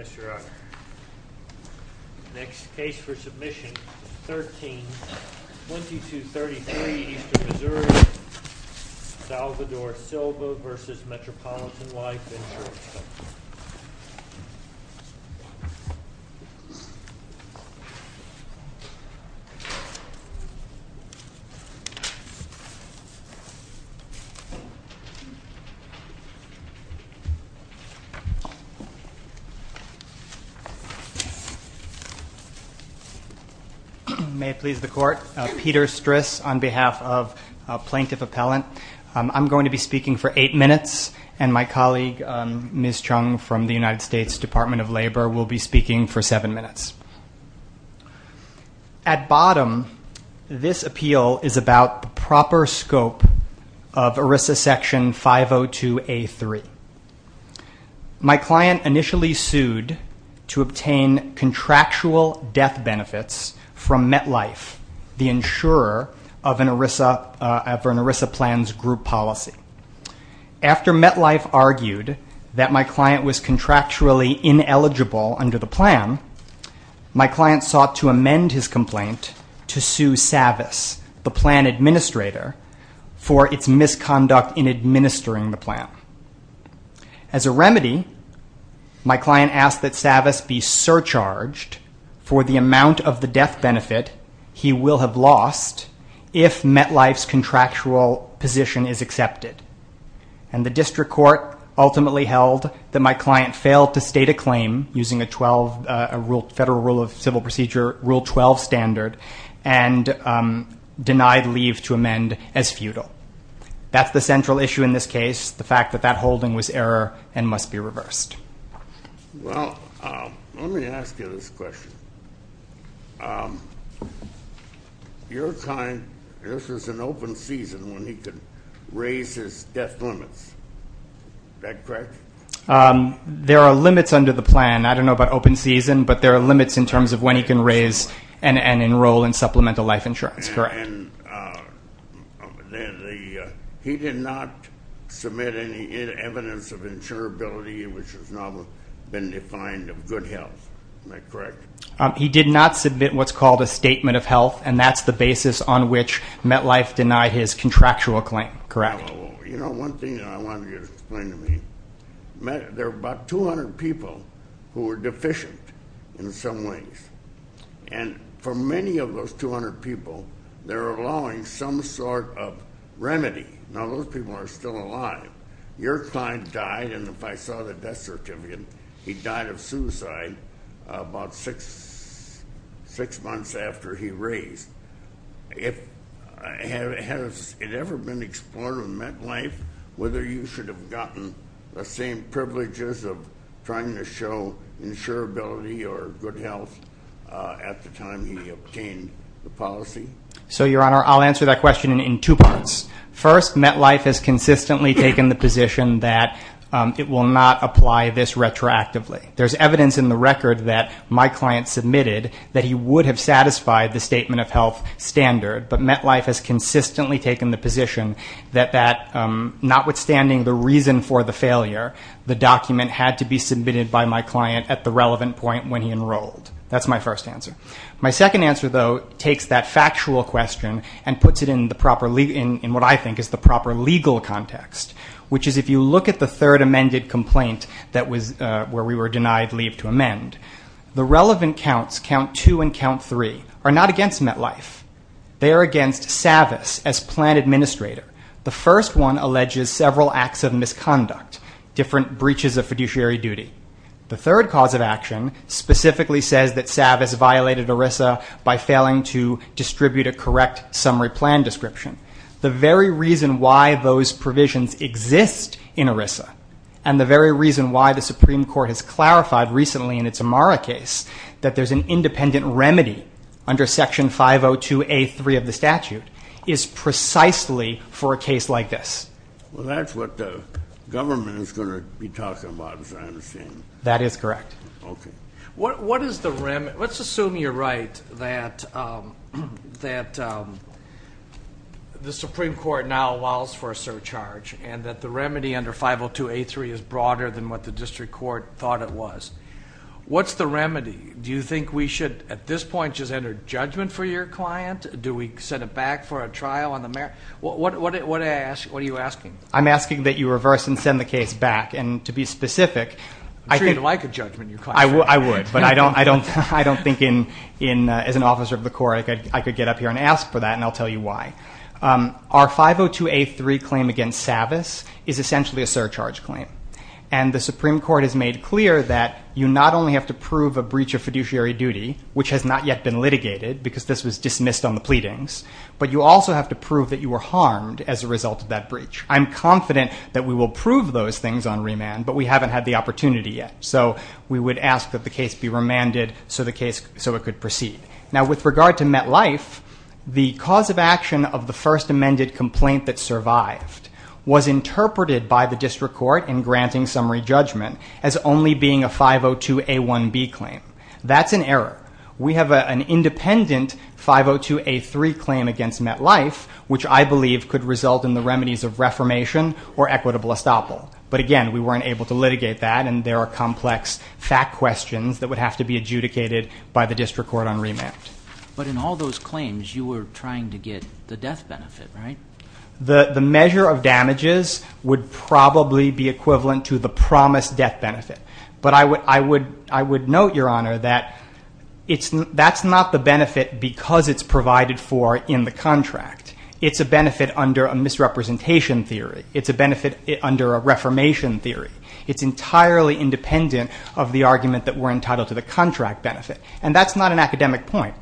Yes, Your Honor. Next case for submission, 13-2233 Eastern Missouri, Salvador Silva v. Metropolitan Life Insurance Company. May it please the Court. Peter Stris on behalf of Plaintiff Appellant. I'm going to be speaking for eight minutes, and my colleague Ms. Chung from the United States Department of Labor will be speaking for seven minutes. At bottom, this appeal is about proper scope of ERISA Section 502A3. My client initially sued to obtain contractual death benefits from MetLife, the insurer of an ERISA plan's group policy. After MetLife argued that my client was contractually ineligible under the plan, my client sought to amend his complaint to sue Savas, the plan administrator, for its misconduct in administering the plan. As a remedy, my client asked that Savas be surcharged for the amount of the death benefit he will have lost if MetLife's contractual position is accepted. And the district court ultimately held that my client failed to state a claim using a federal rule of civil procedure, Rule 12 standard, and denied leave to amend as futile. That's the central issue in this case, the fact that that holding was error and must be reversed. Well, let me ask you this question. Your client, this was an open season when he could raise his death limits. Is that correct? There are limits under the plan. I don't know about open season, but there are limits in terms of when he can raise and enroll in supplemental life insurance, correct. And he did not submit any evidence of insurability, which has now been defined as good health. Is that correct? He did not submit what's called a statement of health, and that's the basis on which MetLife denied his contractual claim, correct. You know, one thing I wanted you to explain to me, there are about 200 people who are deficient in some ways. And for many of those 200 people, they're allowing some sort of remedy. Now, those people are still alive. Your client died, and if I saw the death certificate, he died of suicide about six months after he raised. Has it ever been explored in MetLife whether you should have gotten the same privileges of trying to show insurability or good health at the time he obtained the policy? So, Your Honor, I'll answer that question in two parts. First, MetLife has consistently taken the position that it will not apply this retroactively. There's evidence in the record that my client submitted that he would have satisfied the statement of health standard, but MetLife has consistently taken the position that notwithstanding the reason for the failure, the document had to be submitted by my client at the relevant point when he enrolled. That's my first answer. My second answer, though, takes that factual question and puts it in what I think is the proper legal context, which is if you look at the third amended complaint where we were denied leave to amend, the relevant counts, count two and count three, are not against MetLife. They are against Savvis as plan administrator. The first one alleges several acts of misconduct, different breaches of fiduciary duty. The third cause of action specifically says that Savvis violated ERISA by failing to distribute a correct summary plan description. The very reason why those provisions exist in ERISA and the very reason why the Supreme Court has clarified recently in its Amara case that there's an independent remedy under Section 502A3 of the statute is precisely for a case like this. Well, that's what the government is going to be talking about, as I understand. That is correct. Okay. What is the remedy? Let's assume you're right that the Supreme Court now allows for a surcharge and that the remedy under 502A3 is broader than what the district court thought it was. What's the remedy? Do you think we should at this point just enter judgment for your client? Do we send it back for a trial on the matter? What are you asking? I'm asking that you reverse and send the case back. I would, but I don't think as an officer of the court I could get up here and ask for that, and I'll tell you why. Our 502A3 claim against Savvis is essentially a surcharge claim, and the Supreme Court has made clear that you not only have to prove a breach of fiduciary duty, which has not yet been litigated because this was dismissed on the pleadings, but you also have to prove that you were harmed as a result of that breach. I'm confident that we will prove those things on remand, but we haven't had the opportunity yet. So we would ask that the case be remanded so it could proceed. Now with regard to MetLife, the cause of action of the first amended complaint that survived was interpreted by the district court in granting summary judgment as only being a 502A1B claim. That's an error. We have an independent 502A3 claim against MetLife, which I believe could result in the remedies of reformation or equitable estoppel. But again, we weren't able to litigate that, and there are complex fact questions that would have to be adjudicated by the district court on remand. But in all those claims, you were trying to get the death benefit, right? The measure of damages would probably be equivalent to the promised death benefit. But I would note, Your Honor, that that's not the benefit because it's provided for in the contract. It's a benefit under a misrepresentation theory. It's a benefit under a reformation theory. It's entirely independent of the argument that we're entitled to the contract benefit, and that's not an academic point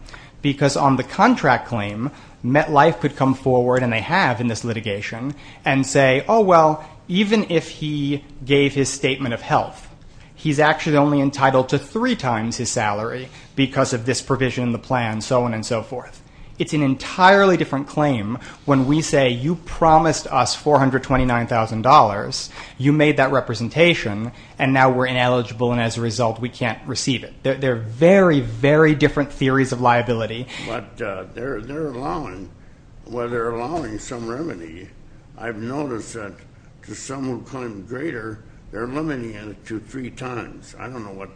because on the contract claim, MetLife could come forward, and they have in this litigation, and say, oh, well, even if he gave his statement of health, he's actually only entitled to three times his salary because of this provision in the plan, so on and so forth. It's an entirely different claim when we say you promised us $429,000. You made that representation, and now we're ineligible, and as a result, we can't receive it. But they're allowing some remedy. I've noticed that to some who claim greater, they're limiting it to three times. I don't know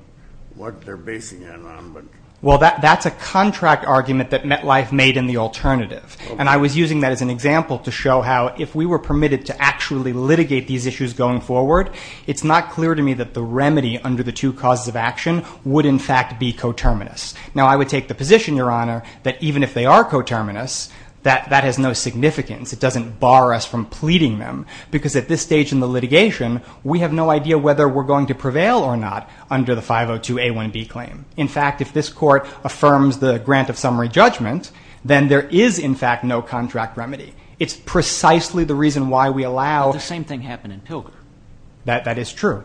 what they're basing it on. Well, that's a contract argument that MetLife made in the alternative, and I was using that as an example to show how if we were permitted to actually litigate these issues going forward, it's not clear to me that the remedy under the two causes of action would in fact be coterminous. Now, I would take the position, Your Honor, that even if they are coterminous, that that has no significance. It doesn't bar us from pleading them because at this stage in the litigation, we have no idea whether we're going to prevail or not under the 502A1B claim. In fact, if this court affirms the grant of summary judgment, then there is in fact no contract remedy. It's precisely the reason why we allow the same thing happen in Pilger. That is true,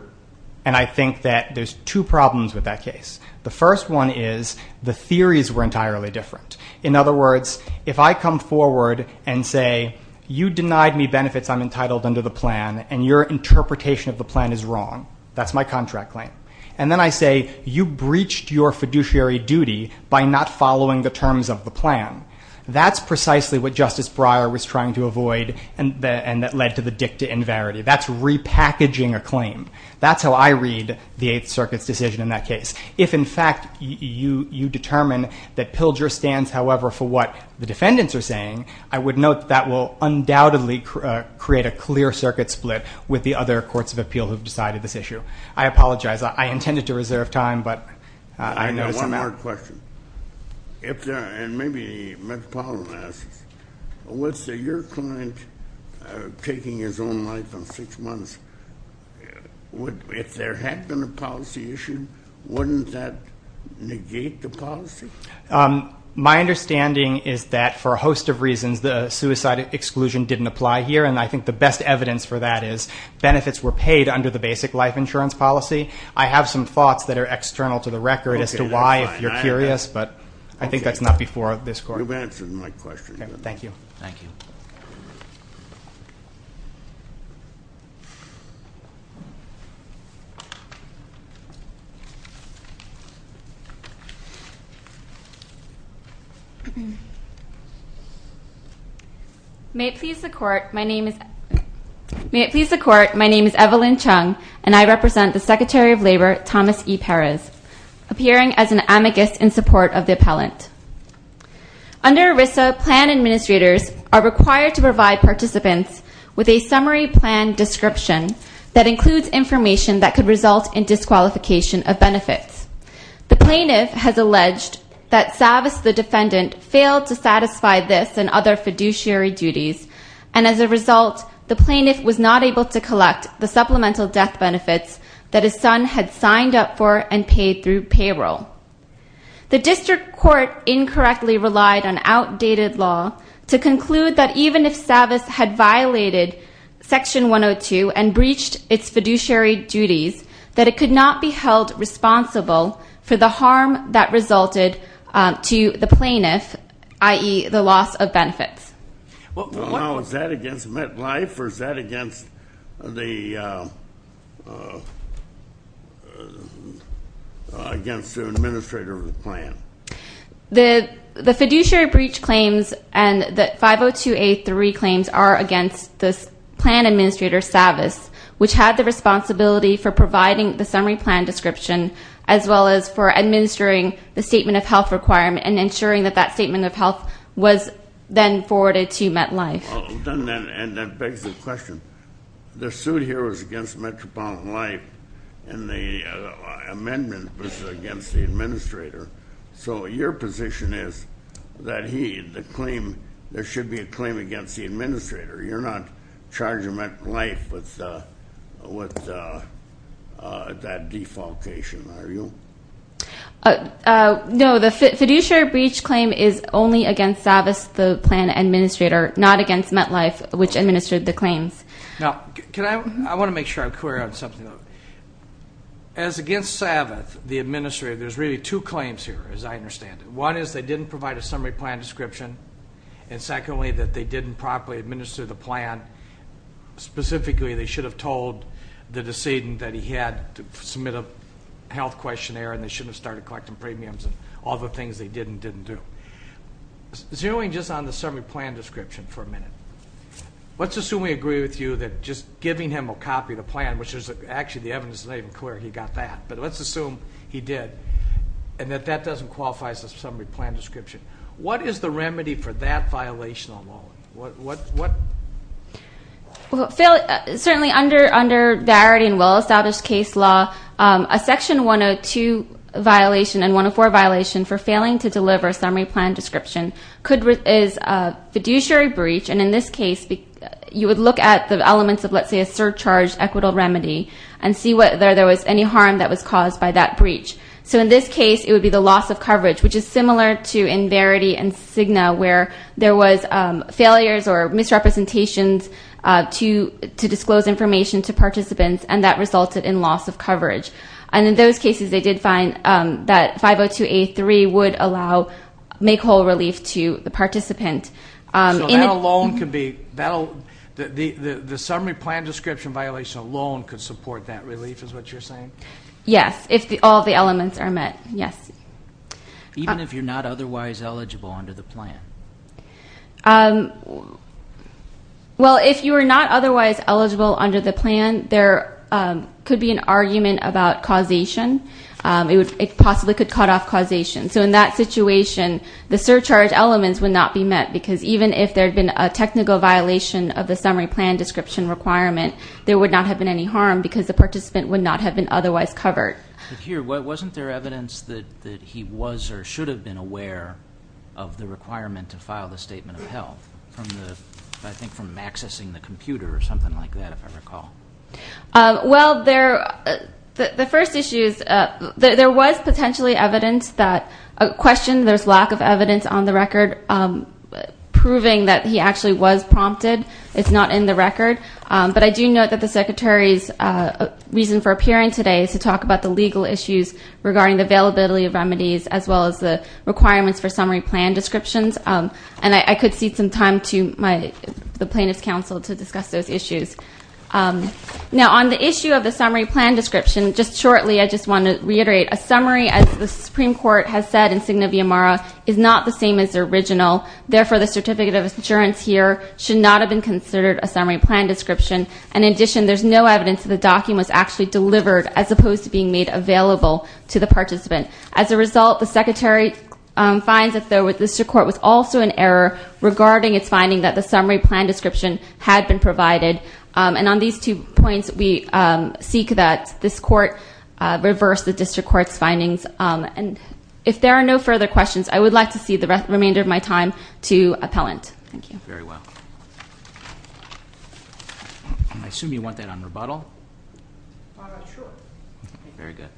and I think that there's two problems with that case. The first one is the theories were entirely different. In other words, if I come forward and say you denied me benefits I'm entitled under the plan, and your interpretation of the plan is wrong, that's my contract claim, and then I say you breached your fiduciary duty by not following the terms of the plan, that's precisely what Justice Breyer was trying to avoid and that led to the dicta in verity. That's repackaging a claim. That's how I read the Eighth Circuit's decision in that case. If, in fact, you determine that Pilger stands, however, for what the defendants are saying, I would note that that will undoubtedly create a clear circuit split with the other courts of appeal who have decided this issue. I apologize. I intended to reserve time, but I know it's a matter of time. One more question. And maybe Mr. Palin asks, what's your client taking his own life on six months? If there had been a policy issue, wouldn't that negate the policy? My understanding is that for a host of reasons the suicide exclusion didn't apply here, and I think the best evidence for that is benefits were paid under the basic life insurance policy. I have some thoughts that are external to the record as to why, if you're curious, but I think that's not before this court. You've answered my question. Thank you. Thank you. May it please the Court, my name is Evelyn Chung, and I represent the Secretary of Labor, Thomas E. Perez, appearing as an amicus in support of the appellant. Under ERISA, plan administrators are required to provide participants with a summary plan description that includes information that could result in disqualification of benefits. The plaintiff has alleged that Savas, the defendant, failed to satisfy this and other fiduciary duties, and as a result, the plaintiff was not able to collect the supplemental death benefits that his son had signed up for and paid through payroll. The district court incorrectly relied on outdated law to conclude that even if Savas had violated Section 102 and breached its fiduciary duties, that it could not be held responsible for the harm that resulted to the plaintiff, i.e., the loss of benefits. Now, is that against MetLife, or is that against the administrator of the plan? The fiduciary breach claims and the 502A3 claims are against the plan administrator, Savas, which had the responsibility for providing the summary plan description, as well as for administering the statement of health requirement and ensuring that that statement of health was then forwarded to MetLife. And that begs the question, the suit here was against Metropolitan Life, and the amendment was against the administrator, so your position is that there should be a claim against the administrator. You're not charging MetLife with that defalcation, are you? No, the fiduciary breach claim is only against Savas, the plan administrator, not against MetLife, which administered the claims. Now, I want to make sure I'm clear on something. As against Savas, the administrator, there's really two claims here, as I understand it. One is they didn't provide a summary plan description, and secondly, that they didn't properly administer the plan. Specifically, they should have told the decedent that he had to submit a health questionnaire, and they shouldn't have started collecting premiums and all the things they did and didn't do. Zeroing just on the summary plan description for a minute, let's assume we agree with you that just giving him a copy of the plan, which actually the evidence is not even clear he got that, but let's assume he did, and that that doesn't qualify as a summary plan description. What is the remedy for that violation? Certainly, under Varity and well-established case law, a section 102 violation and 104 violation for failing to deliver a summary plan description is a fiduciary breach, and in this case, you would look at the elements of, let's say, a surcharge equitable remedy and see whether there was any harm that was caused by that breach. So in this case, it would be the loss of coverage, which is similar to in Varity and Cigna, where there was failures or misrepresentations to disclose information to participants, and that resulted in loss of coverage. And in those cases, they did find that 502A3 would make whole relief to the participant. So that alone could be the summary plan description violation alone could support that relief is what you're saying? Yes, if all the elements are met, yes. Even if you're not otherwise eligible under the plan? Well, if you are not otherwise eligible under the plan, there could be an argument about causation. It possibly could cut off causation. So in that situation, the surcharge elements would not be met, because even if there had been a technical violation of the summary plan description requirement, there would not have been any harm because the participant would not have been otherwise covered. But here, wasn't there evidence that he was or should have been aware of the requirement to file the statement of health, I think from accessing the computer or something like that, if I recall? Well, the first issue is there was potentially evidence that a question, there's lack of evidence on the record proving that he actually was prompted. It's not in the record. But I do note that the Secretary's reason for appearing today is to talk about the legal issues regarding the availability of remedies, as well as the requirements for summary plan descriptions. And I could cede some time to the plaintiff's counsel to discuss those issues. Now, on the issue of the summary plan description, just shortly, I just want to reiterate, a summary, as the Supreme Court has said in Signa Viomara, is not the same as the original. The evidence here should not have been considered a summary plan description. And in addition, there's no evidence that the document was actually delivered as opposed to being made available to the participant. As a result, the Secretary finds that the district court was also in error regarding its finding that the summary plan description had been provided. And on these two points, we seek that this court reverse the district court's findings. And if there are no further questions, I would like to cede the remainder of my time to appellant. Thank you. Very well. I assume you want that on rebuttal? Why not? Sure. Very good.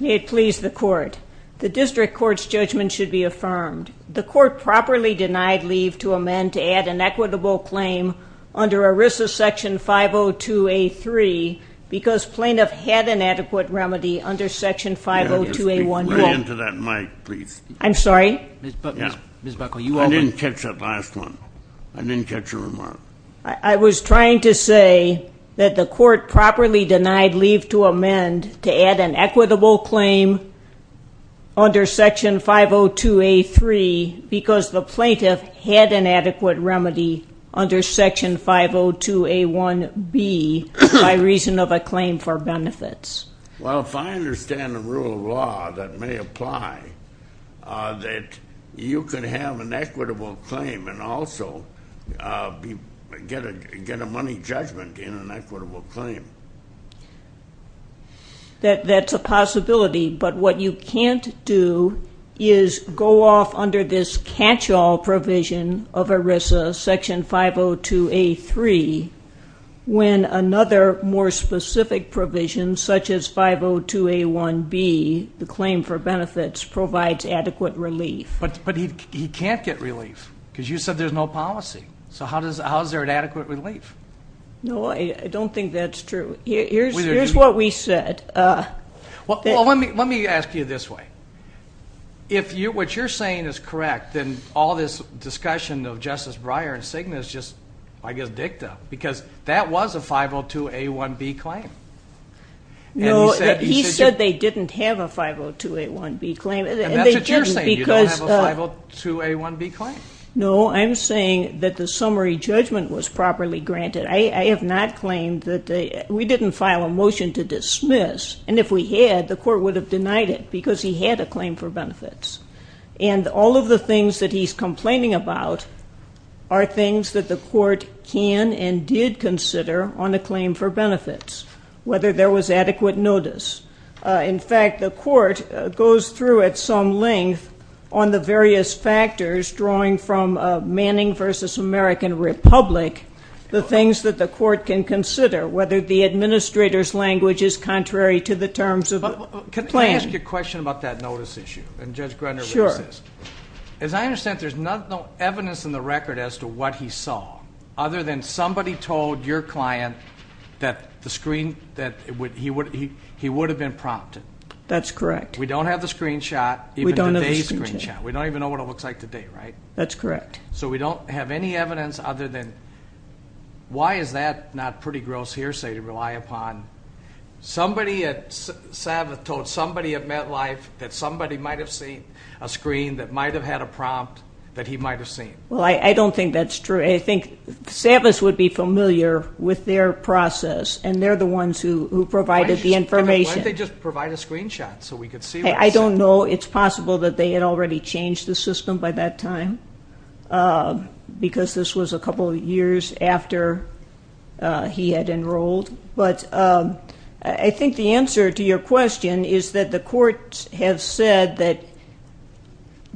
May it please the court. The district court's judgment should be affirmed. The court properly denied leave to amend to add an equitable claim under ERISA Section 502A3 because plaintiff had an adequate remedy under Section 502A1B. Way into that mic, please. I'm sorry? Ms. Buckle, you over. I didn't catch that last one. I didn't catch your remark. I was trying to say that the court properly denied leave to amend to add an equitable claim under Section 502A3 because the plaintiff had an adequate remedy under Section 502A1B by reason of a claim for benefits. Well, if I understand the rule of law that may apply, that you can have an equitable claim and also get a money judgment in an equitable claim. That's a possibility, but what you can't do is go off under this catch-all provision of ERISA Section 502A3 when another more specific provision such as 502A1B, the claim for benefits, provides adequate relief. But he can't get relief because you said there's no policy. So how is there an adequate relief? No, I don't think that's true. Here's what we said. Well, let me ask you this way. If what you're saying is correct, then all this discussion of Justice Breyer and Cigna is just, I guess, dicta because that was a 502A1B claim. No, he said they didn't have a 502A1B claim. And that's what you're saying, you don't have a 502A1B claim. No, I'm saying that the summary judgment was properly granted. I have not claimed that they we didn't file a motion to dismiss. And if we had, the court would have denied it because he had a claim for benefits. And all of the things that he's complaining about are things that the court can and did consider on a claim for benefits, whether there was adequate notice. In fact, the court goes through at some length on the various factors drawing from Manning v. American Republic, the things that the court can consider, whether the administrator's language is contrary to the terms of the plan. Can I ask you a question about that notice issue? Sure. As I understand it, there's no evidence in the record as to what he saw, other than somebody told your client that he would have been prompted. That's correct. We don't have the screenshot, even today's screenshot. We don't even know what it looks like today, right? That's correct. So we don't have any evidence other than, why is that not pretty gross hearsay to rely upon? Somebody at Sabbath told somebody at MetLife that somebody might have seen a screen that might have had a prompt that he might have seen. Well, I don't think that's true. I think Sabbath would be familiar with their process, and they're the ones who provided the information. Why didn't they just provide a screenshot so we could see what it said? I don't know. It's possible that they had already changed the system by that time, because this was a couple of years after he had enrolled. But I think the answer to your question is that the courts have said that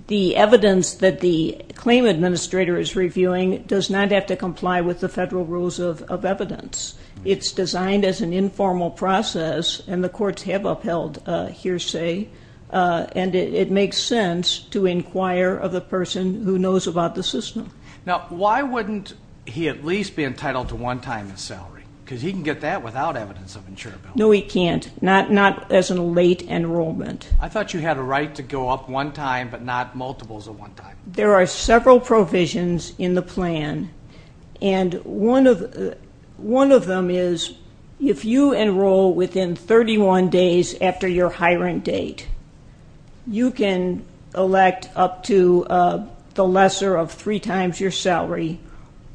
the evidence that the claim administrator is reviewing does not have to comply with the federal rules of evidence. It's designed as an informal process, and the courts have upheld hearsay, and it makes sense to inquire of the person who knows about the system. Now, why wouldn't he at least be entitled to one time of salary? Because he can get that without evidence of insurability. No, he can't, not as a late enrollment. I thought you had a right to go up one time but not multiples of one time. There are several provisions in the plan, and one of them is if you enroll within 31 days after your hiring date, you can elect up to the lesser of three times your salary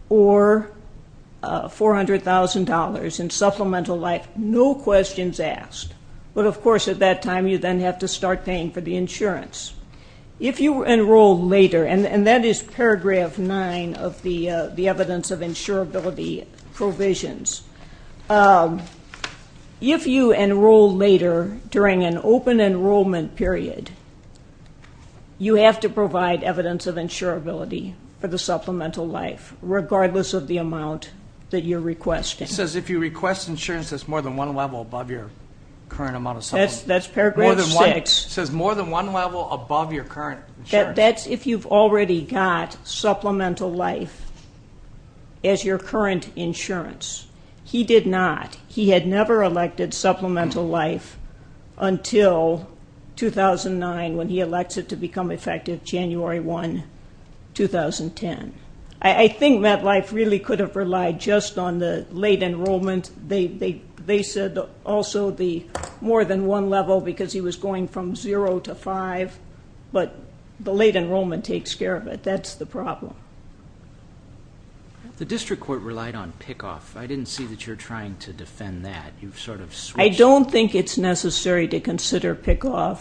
or $400,000 in supplemental life, no questions asked. But, of course, at that time you then have to start paying for the insurance. If you enroll later, and that is paragraph 9 of the evidence of insurability provisions, if you enroll later during an open enrollment period, you have to provide evidence of insurability for the supplemental life, regardless of the amount that you're requesting. It says if you request insurance that's more than one level above your current amount of supplemental life. That's paragraph 6. It says more than one level above your current insurance. That's if you've already got supplemental life as your current insurance. He did not. He had never elected supplemental life until 2009 when he elected to become effective January 1, 2010. I think that life really could have relied just on the late enrollment. They said also the more than one level because he was going from zero to five, but the late enrollment takes care of it. That's the problem. The district court relied on pickoff. I didn't see that you're trying to defend that. You've sort of switched. I don't think it's necessary to consider pickoff.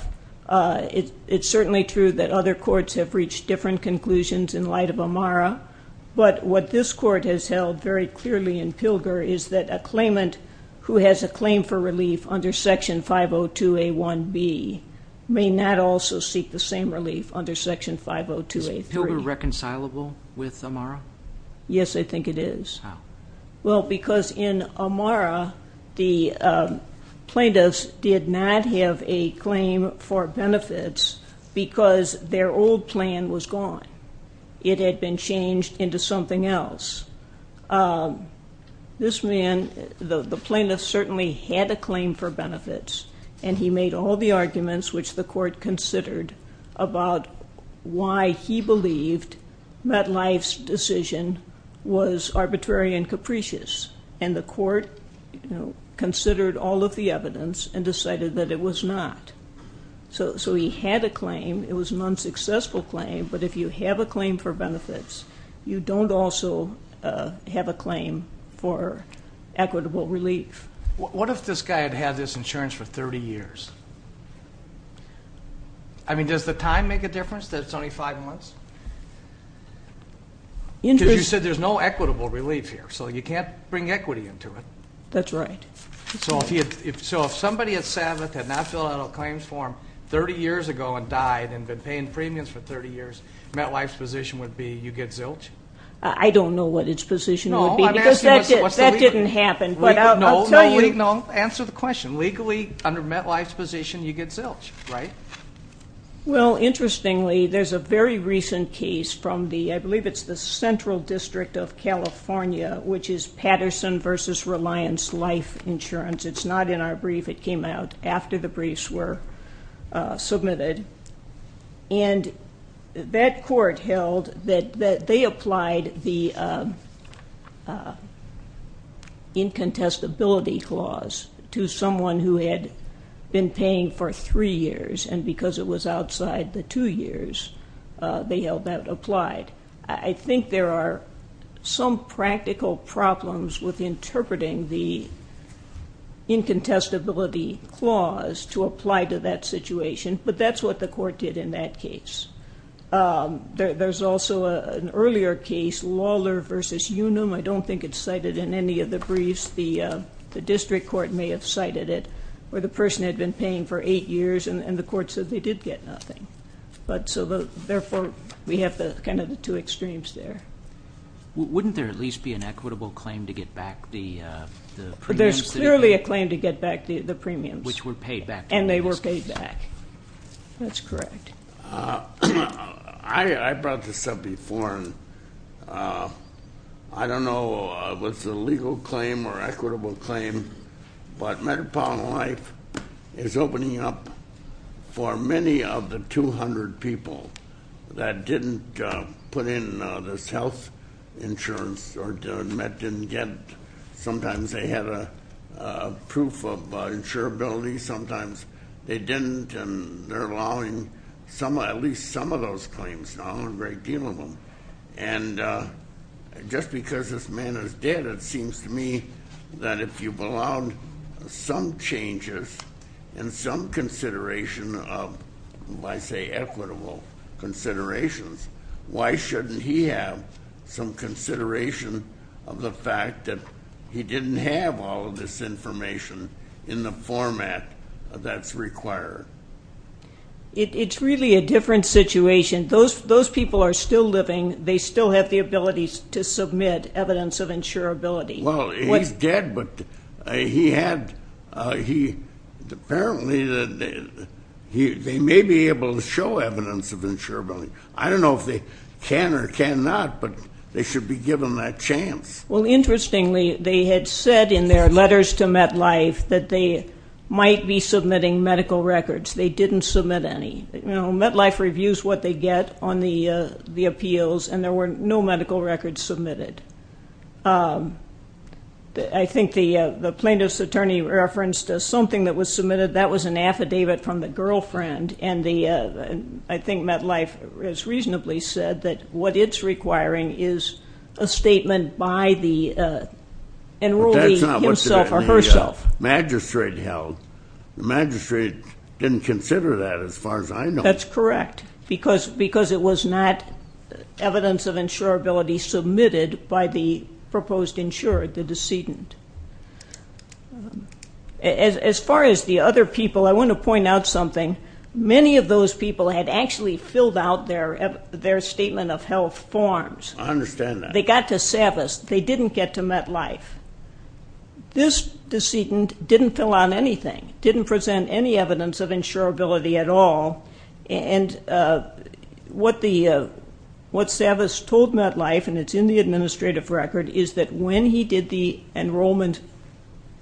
What this court has held very clearly in Pilger is that a claimant who has a claim for relief under Section 502A1B may not also seek the same relief under Section 502A3. Is Pilger reconcilable with Amara? Yes, I think it is. How? Because in Amara, the plaintiffs did not have a claim for benefits because their old plan was gone. It had been changed into something else. This man, the plaintiff, certainly had a claim for benefits, and he made all the arguments which the court considered about why he believed that life's decision was arbitrary and capricious, and the court considered all of the evidence and decided that it was not. So he had a claim. It was an unsuccessful claim, but if you have a claim for benefits, you don't also have a claim for equitable relief. What if this guy had had this insurance for 30 years? I mean, does the time make a difference that it's only five months? Because you said there's no equitable relief here, so you can't bring equity into it. That's right. So if somebody at Sabbath had not filled out a claims form 30 years ago and died and been paying premiums for 30 years, MetLife's position would be you get zilch? I don't know what its position would be because that didn't happen. No, answer the question. Legally, under MetLife's position, you get zilch, right? Well, interestingly, there's a very recent case from the, I believe it's the Central District of California, which is Patterson v. Reliance Life Insurance. It's not in our brief. It came out after the briefs were submitted. And that court held that they applied the incontestability clause to someone who had been paying for three years, and because it was outside the two years, they held that applied. I think there are some practical problems with interpreting the incontestability clause to apply to that situation, but that's what the court did in that case. There's also an earlier case, Lawler v. Unum. I don't think it's cited in any of the briefs. The district court may have cited it where the person had been paying for eight years, and the court said they did get nothing. Therefore, we have kind of the two extremes there. Wouldn't there at least be an equitable claim to get back the premiums? There's clearly a claim to get back the premiums. Which were paid back. And they were paid back. That's correct. I brought this up before, and I don't know if it's a legal claim or equitable claim, but Metropolitan Life is opening up for many of the 200 people that didn't put in this health insurance or didn't get it. Sometimes they had a proof of insurability, sometimes they didn't, and they're allowing at least some of those claims now, a great deal of them. And just because this man is dead, it seems to me that if you've allowed some changes and some consideration of, let's say, equitable considerations, why shouldn't he have some consideration of the fact that he didn't have all of this information in the format that's required? It's really a different situation. Those people are still living. They still have the ability to submit evidence of insurability. Well, he's dead, but apparently they may be able to show evidence of insurability. I don't know if they can or cannot, but they should be given that chance. Well, interestingly, they had said in their letters to MetLife that they might be submitting medical records. They didn't submit any. MetLife reviews what they get on the appeals, and there were no medical records submitted. I think the plaintiff's attorney referenced something that was submitted. That was an affidavit from the girlfriend, and I think MetLife has reasonably said that what it's requiring is a statement by the enrollee himself or herself. That's not what the magistrate held. The magistrate didn't consider that as far as I know. That's correct, because it was not evidence of insurability submitted by the proposed insurer, the decedent. As far as the other people, I want to point out something. Many of those people had actually filled out their Statement of Health forms. I understand that. They got to SAVIS. They didn't get to MetLife. This decedent didn't fill out anything, didn't present any evidence of insurability at all, and what SAVIS told MetLife, and it's in the administrative record, is that when he did the enrollment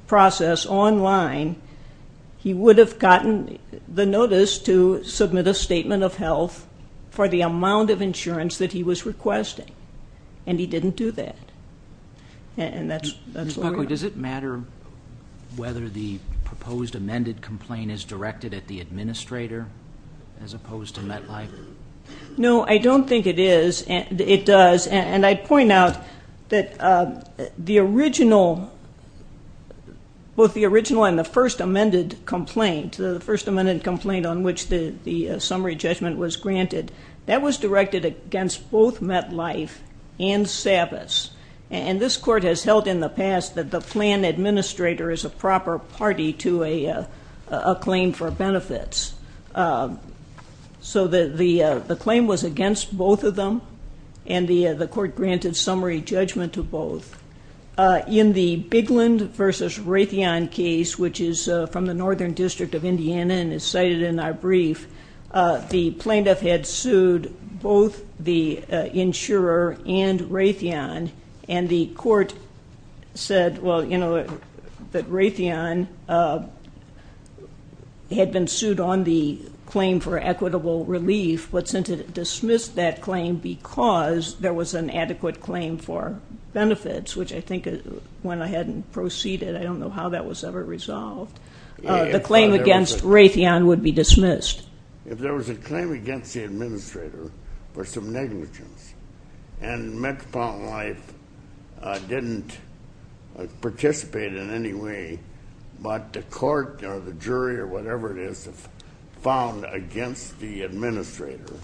process online, he would have gotten the notice to submit a Statement of Health for the amount of insurance that he was requesting, and he didn't do that. Ms. Buckley, does it matter whether the proposed amended complaint is directed at the administrator as opposed to MetLife? No, I don't think it is. It does, and I'd point out that both the original and the first amended complaint, the first amended complaint on which the summary judgment was granted, that was directed against both MetLife and SAVIS, and this court has held in the past that the plan administrator is a proper party to a claim for benefits. So the claim was against both of them, and the court granted summary judgment to both. In the Bigland v. Raytheon case, which is from the Northern District of Indiana and is cited in our brief, the plaintiff had sued both the insurer and Raytheon, and the court said, well, you know, that Raytheon had been sued on the claim for equitable relief, but since it dismissed that claim because there was an adequate claim for benefits, which I think went ahead and proceeded, I don't know how that was ever resolved, the claim against Raytheon would be dismissed. If there was a claim against the administrator for some negligence and Metropolitan Life didn't participate in any way, but the court or the jury or whatever it is found against the administrator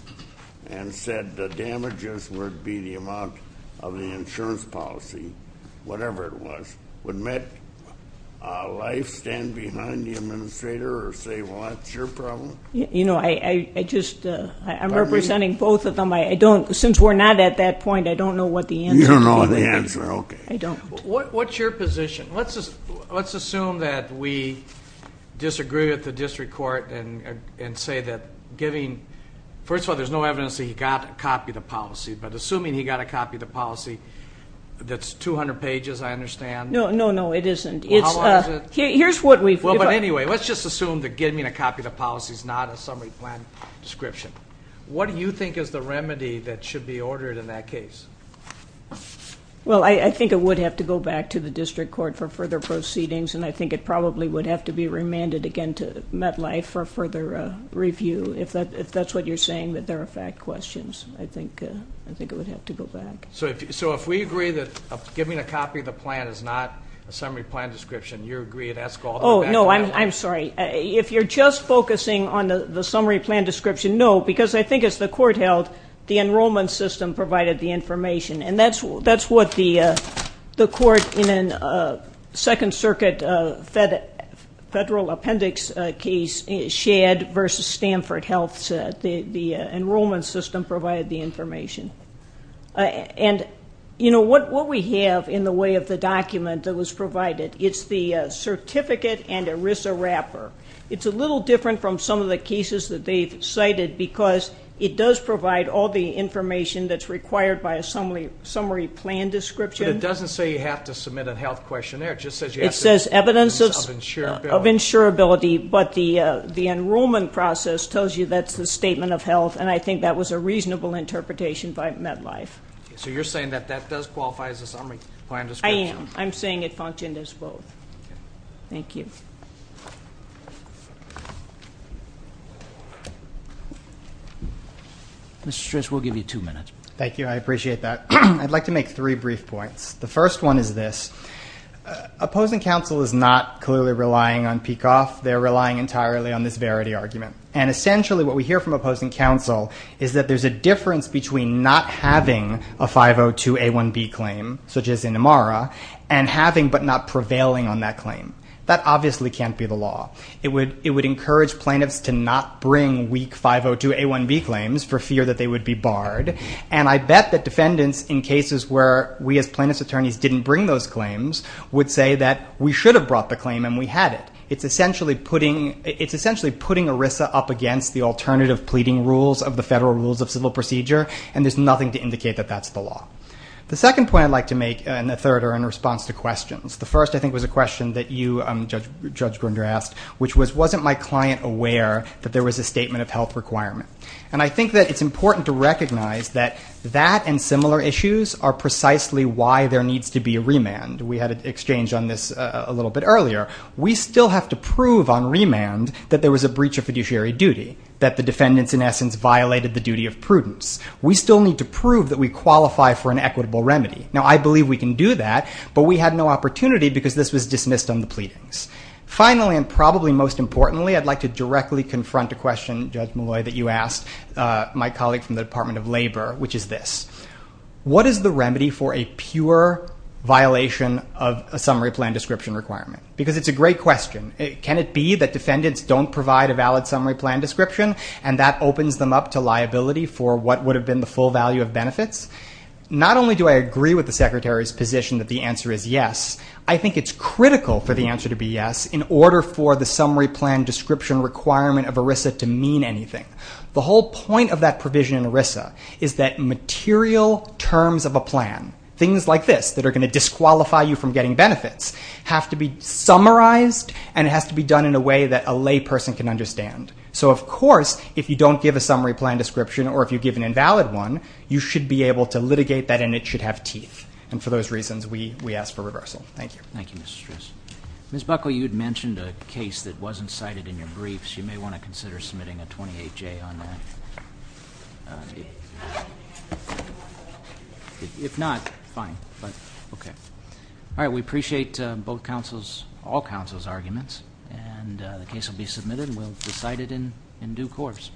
and said the damages would be the amount of the insurance policy, whatever it was, would MetLife stand behind the administrator or say, well, that's your problem? You know, I'm representing both of them. Since we're not at that point, I don't know what the answer to that would be. You don't know the answer, okay. I don't. What's your position? Let's assume that we disagree with the district court and say that giving, first of all, there's no evidence that he got a copy of the policy, but assuming he got a copy of the policy that's 200 pages, I understand. No, no, no, it isn't. Well, how long is it? Here's what we've got. Well, but anyway, let's just assume that giving a copy of the policy is not a summary plan description. What do you think is the remedy that should be ordered in that case? Well, I think it would have to go back to the district court for further proceedings, and I think it probably would have to be remanded again to MetLife for further review. If that's what you're saying, that there are fact questions, I think it would have to go back. So if we agree that giving a copy of the plan is not a summary plan description, you agree that's called a fact plan? Oh, no, I'm sorry. If you're just focusing on the summary plan description, no, because I think as the court held, the enrollment system provided the information, and that's what the court in a Second Circuit federal appendix case shared versus Stanford Health. The enrollment system provided the information. And, you know, what we have in the way of the document that was provided, it's the certificate and ERISA wrapper. It's a little different from some of the cases that they've cited because it does provide all the information that's required by a summary plan description. But it doesn't say you have to submit a health questionnaire. It just says you have to submit evidence of insurability. But the enrollment process tells you that's the statement of health, and I think that was a reasonable interpretation by MetLife. So you're saying that that does qualify as a summary plan description? I am. I'm saying it functioned as both. Thank you. Mr. Stris, we'll give you two minutes. Thank you. I appreciate that. I'd like to make three brief points. The first one is this. Opposing counsel is not clearly relying on PECOF. They're relying entirely on this verity argument. And essentially what we hear from opposing counsel is that there's a difference between not having a 502A1B claim, such as in Amara, and having but not prevailing on that claim. That obviously can't be the law. It would encourage plaintiffs to not bring weak 502A1B claims for fear that they would be barred. And I bet that defendants in cases where we as plaintiff's attorneys didn't bring those claims would say that we should have brought the claim and we had it. It's essentially putting ERISA up against the alternative pleading rules of the Federal Rules of Civil Procedure, and there's nothing to indicate that that's the law. The second point I'd like to make, and the third are in response to questions. The first I think was a question that you, Judge Grunder, asked, which was wasn't my client aware that there was a statement of health requirement? And I think that it's important to recognize that that and similar issues are precisely why there needs to be a remand. We had an exchange on this a little bit earlier. We still have to prove on remand that there was a breach of fiduciary duty, that the defendants in essence violated the duty of prudence. We still need to prove that we qualify for an equitable remedy. Now, I believe we can do that, but we had no opportunity because this was dismissed on the pleadings. Finally, and probably most importantly, I'd like to directly confront a question, Judge Malloy, that you asked my colleague from the Department of Labor, which is this. What is the remedy for a pure violation of a summary plan description requirement? Because it's a great question. Can it be that defendants don't provide a valid summary plan description and that opens them up to liability for what would have been the full value of benefits? Not only do I agree with the Secretary's position that the answer is yes, I think it's critical for the answer to be yes in order for the summary plan description requirement of ERISA to mean anything. The whole point of that provision in ERISA is that material terms of a plan, things like this that are going to disqualify you from getting benefits, have to be summarized and it has to be done in a way that a lay person can understand. So, of course, if you don't give a summary plan description or if you give an invalid one, you should be able to litigate that and it should have teeth. And for those reasons, we ask for reversal. Thank you. Thank you, Mr. Stris. Ms. Buckle, you had mentioned a case that wasn't cited in your briefs. You may want to consider submitting a 28-J on that. If not, fine. But, okay. All right. We appreciate both counsel's, all counsel's arguments. And the case will be submitted and will be cited in due course.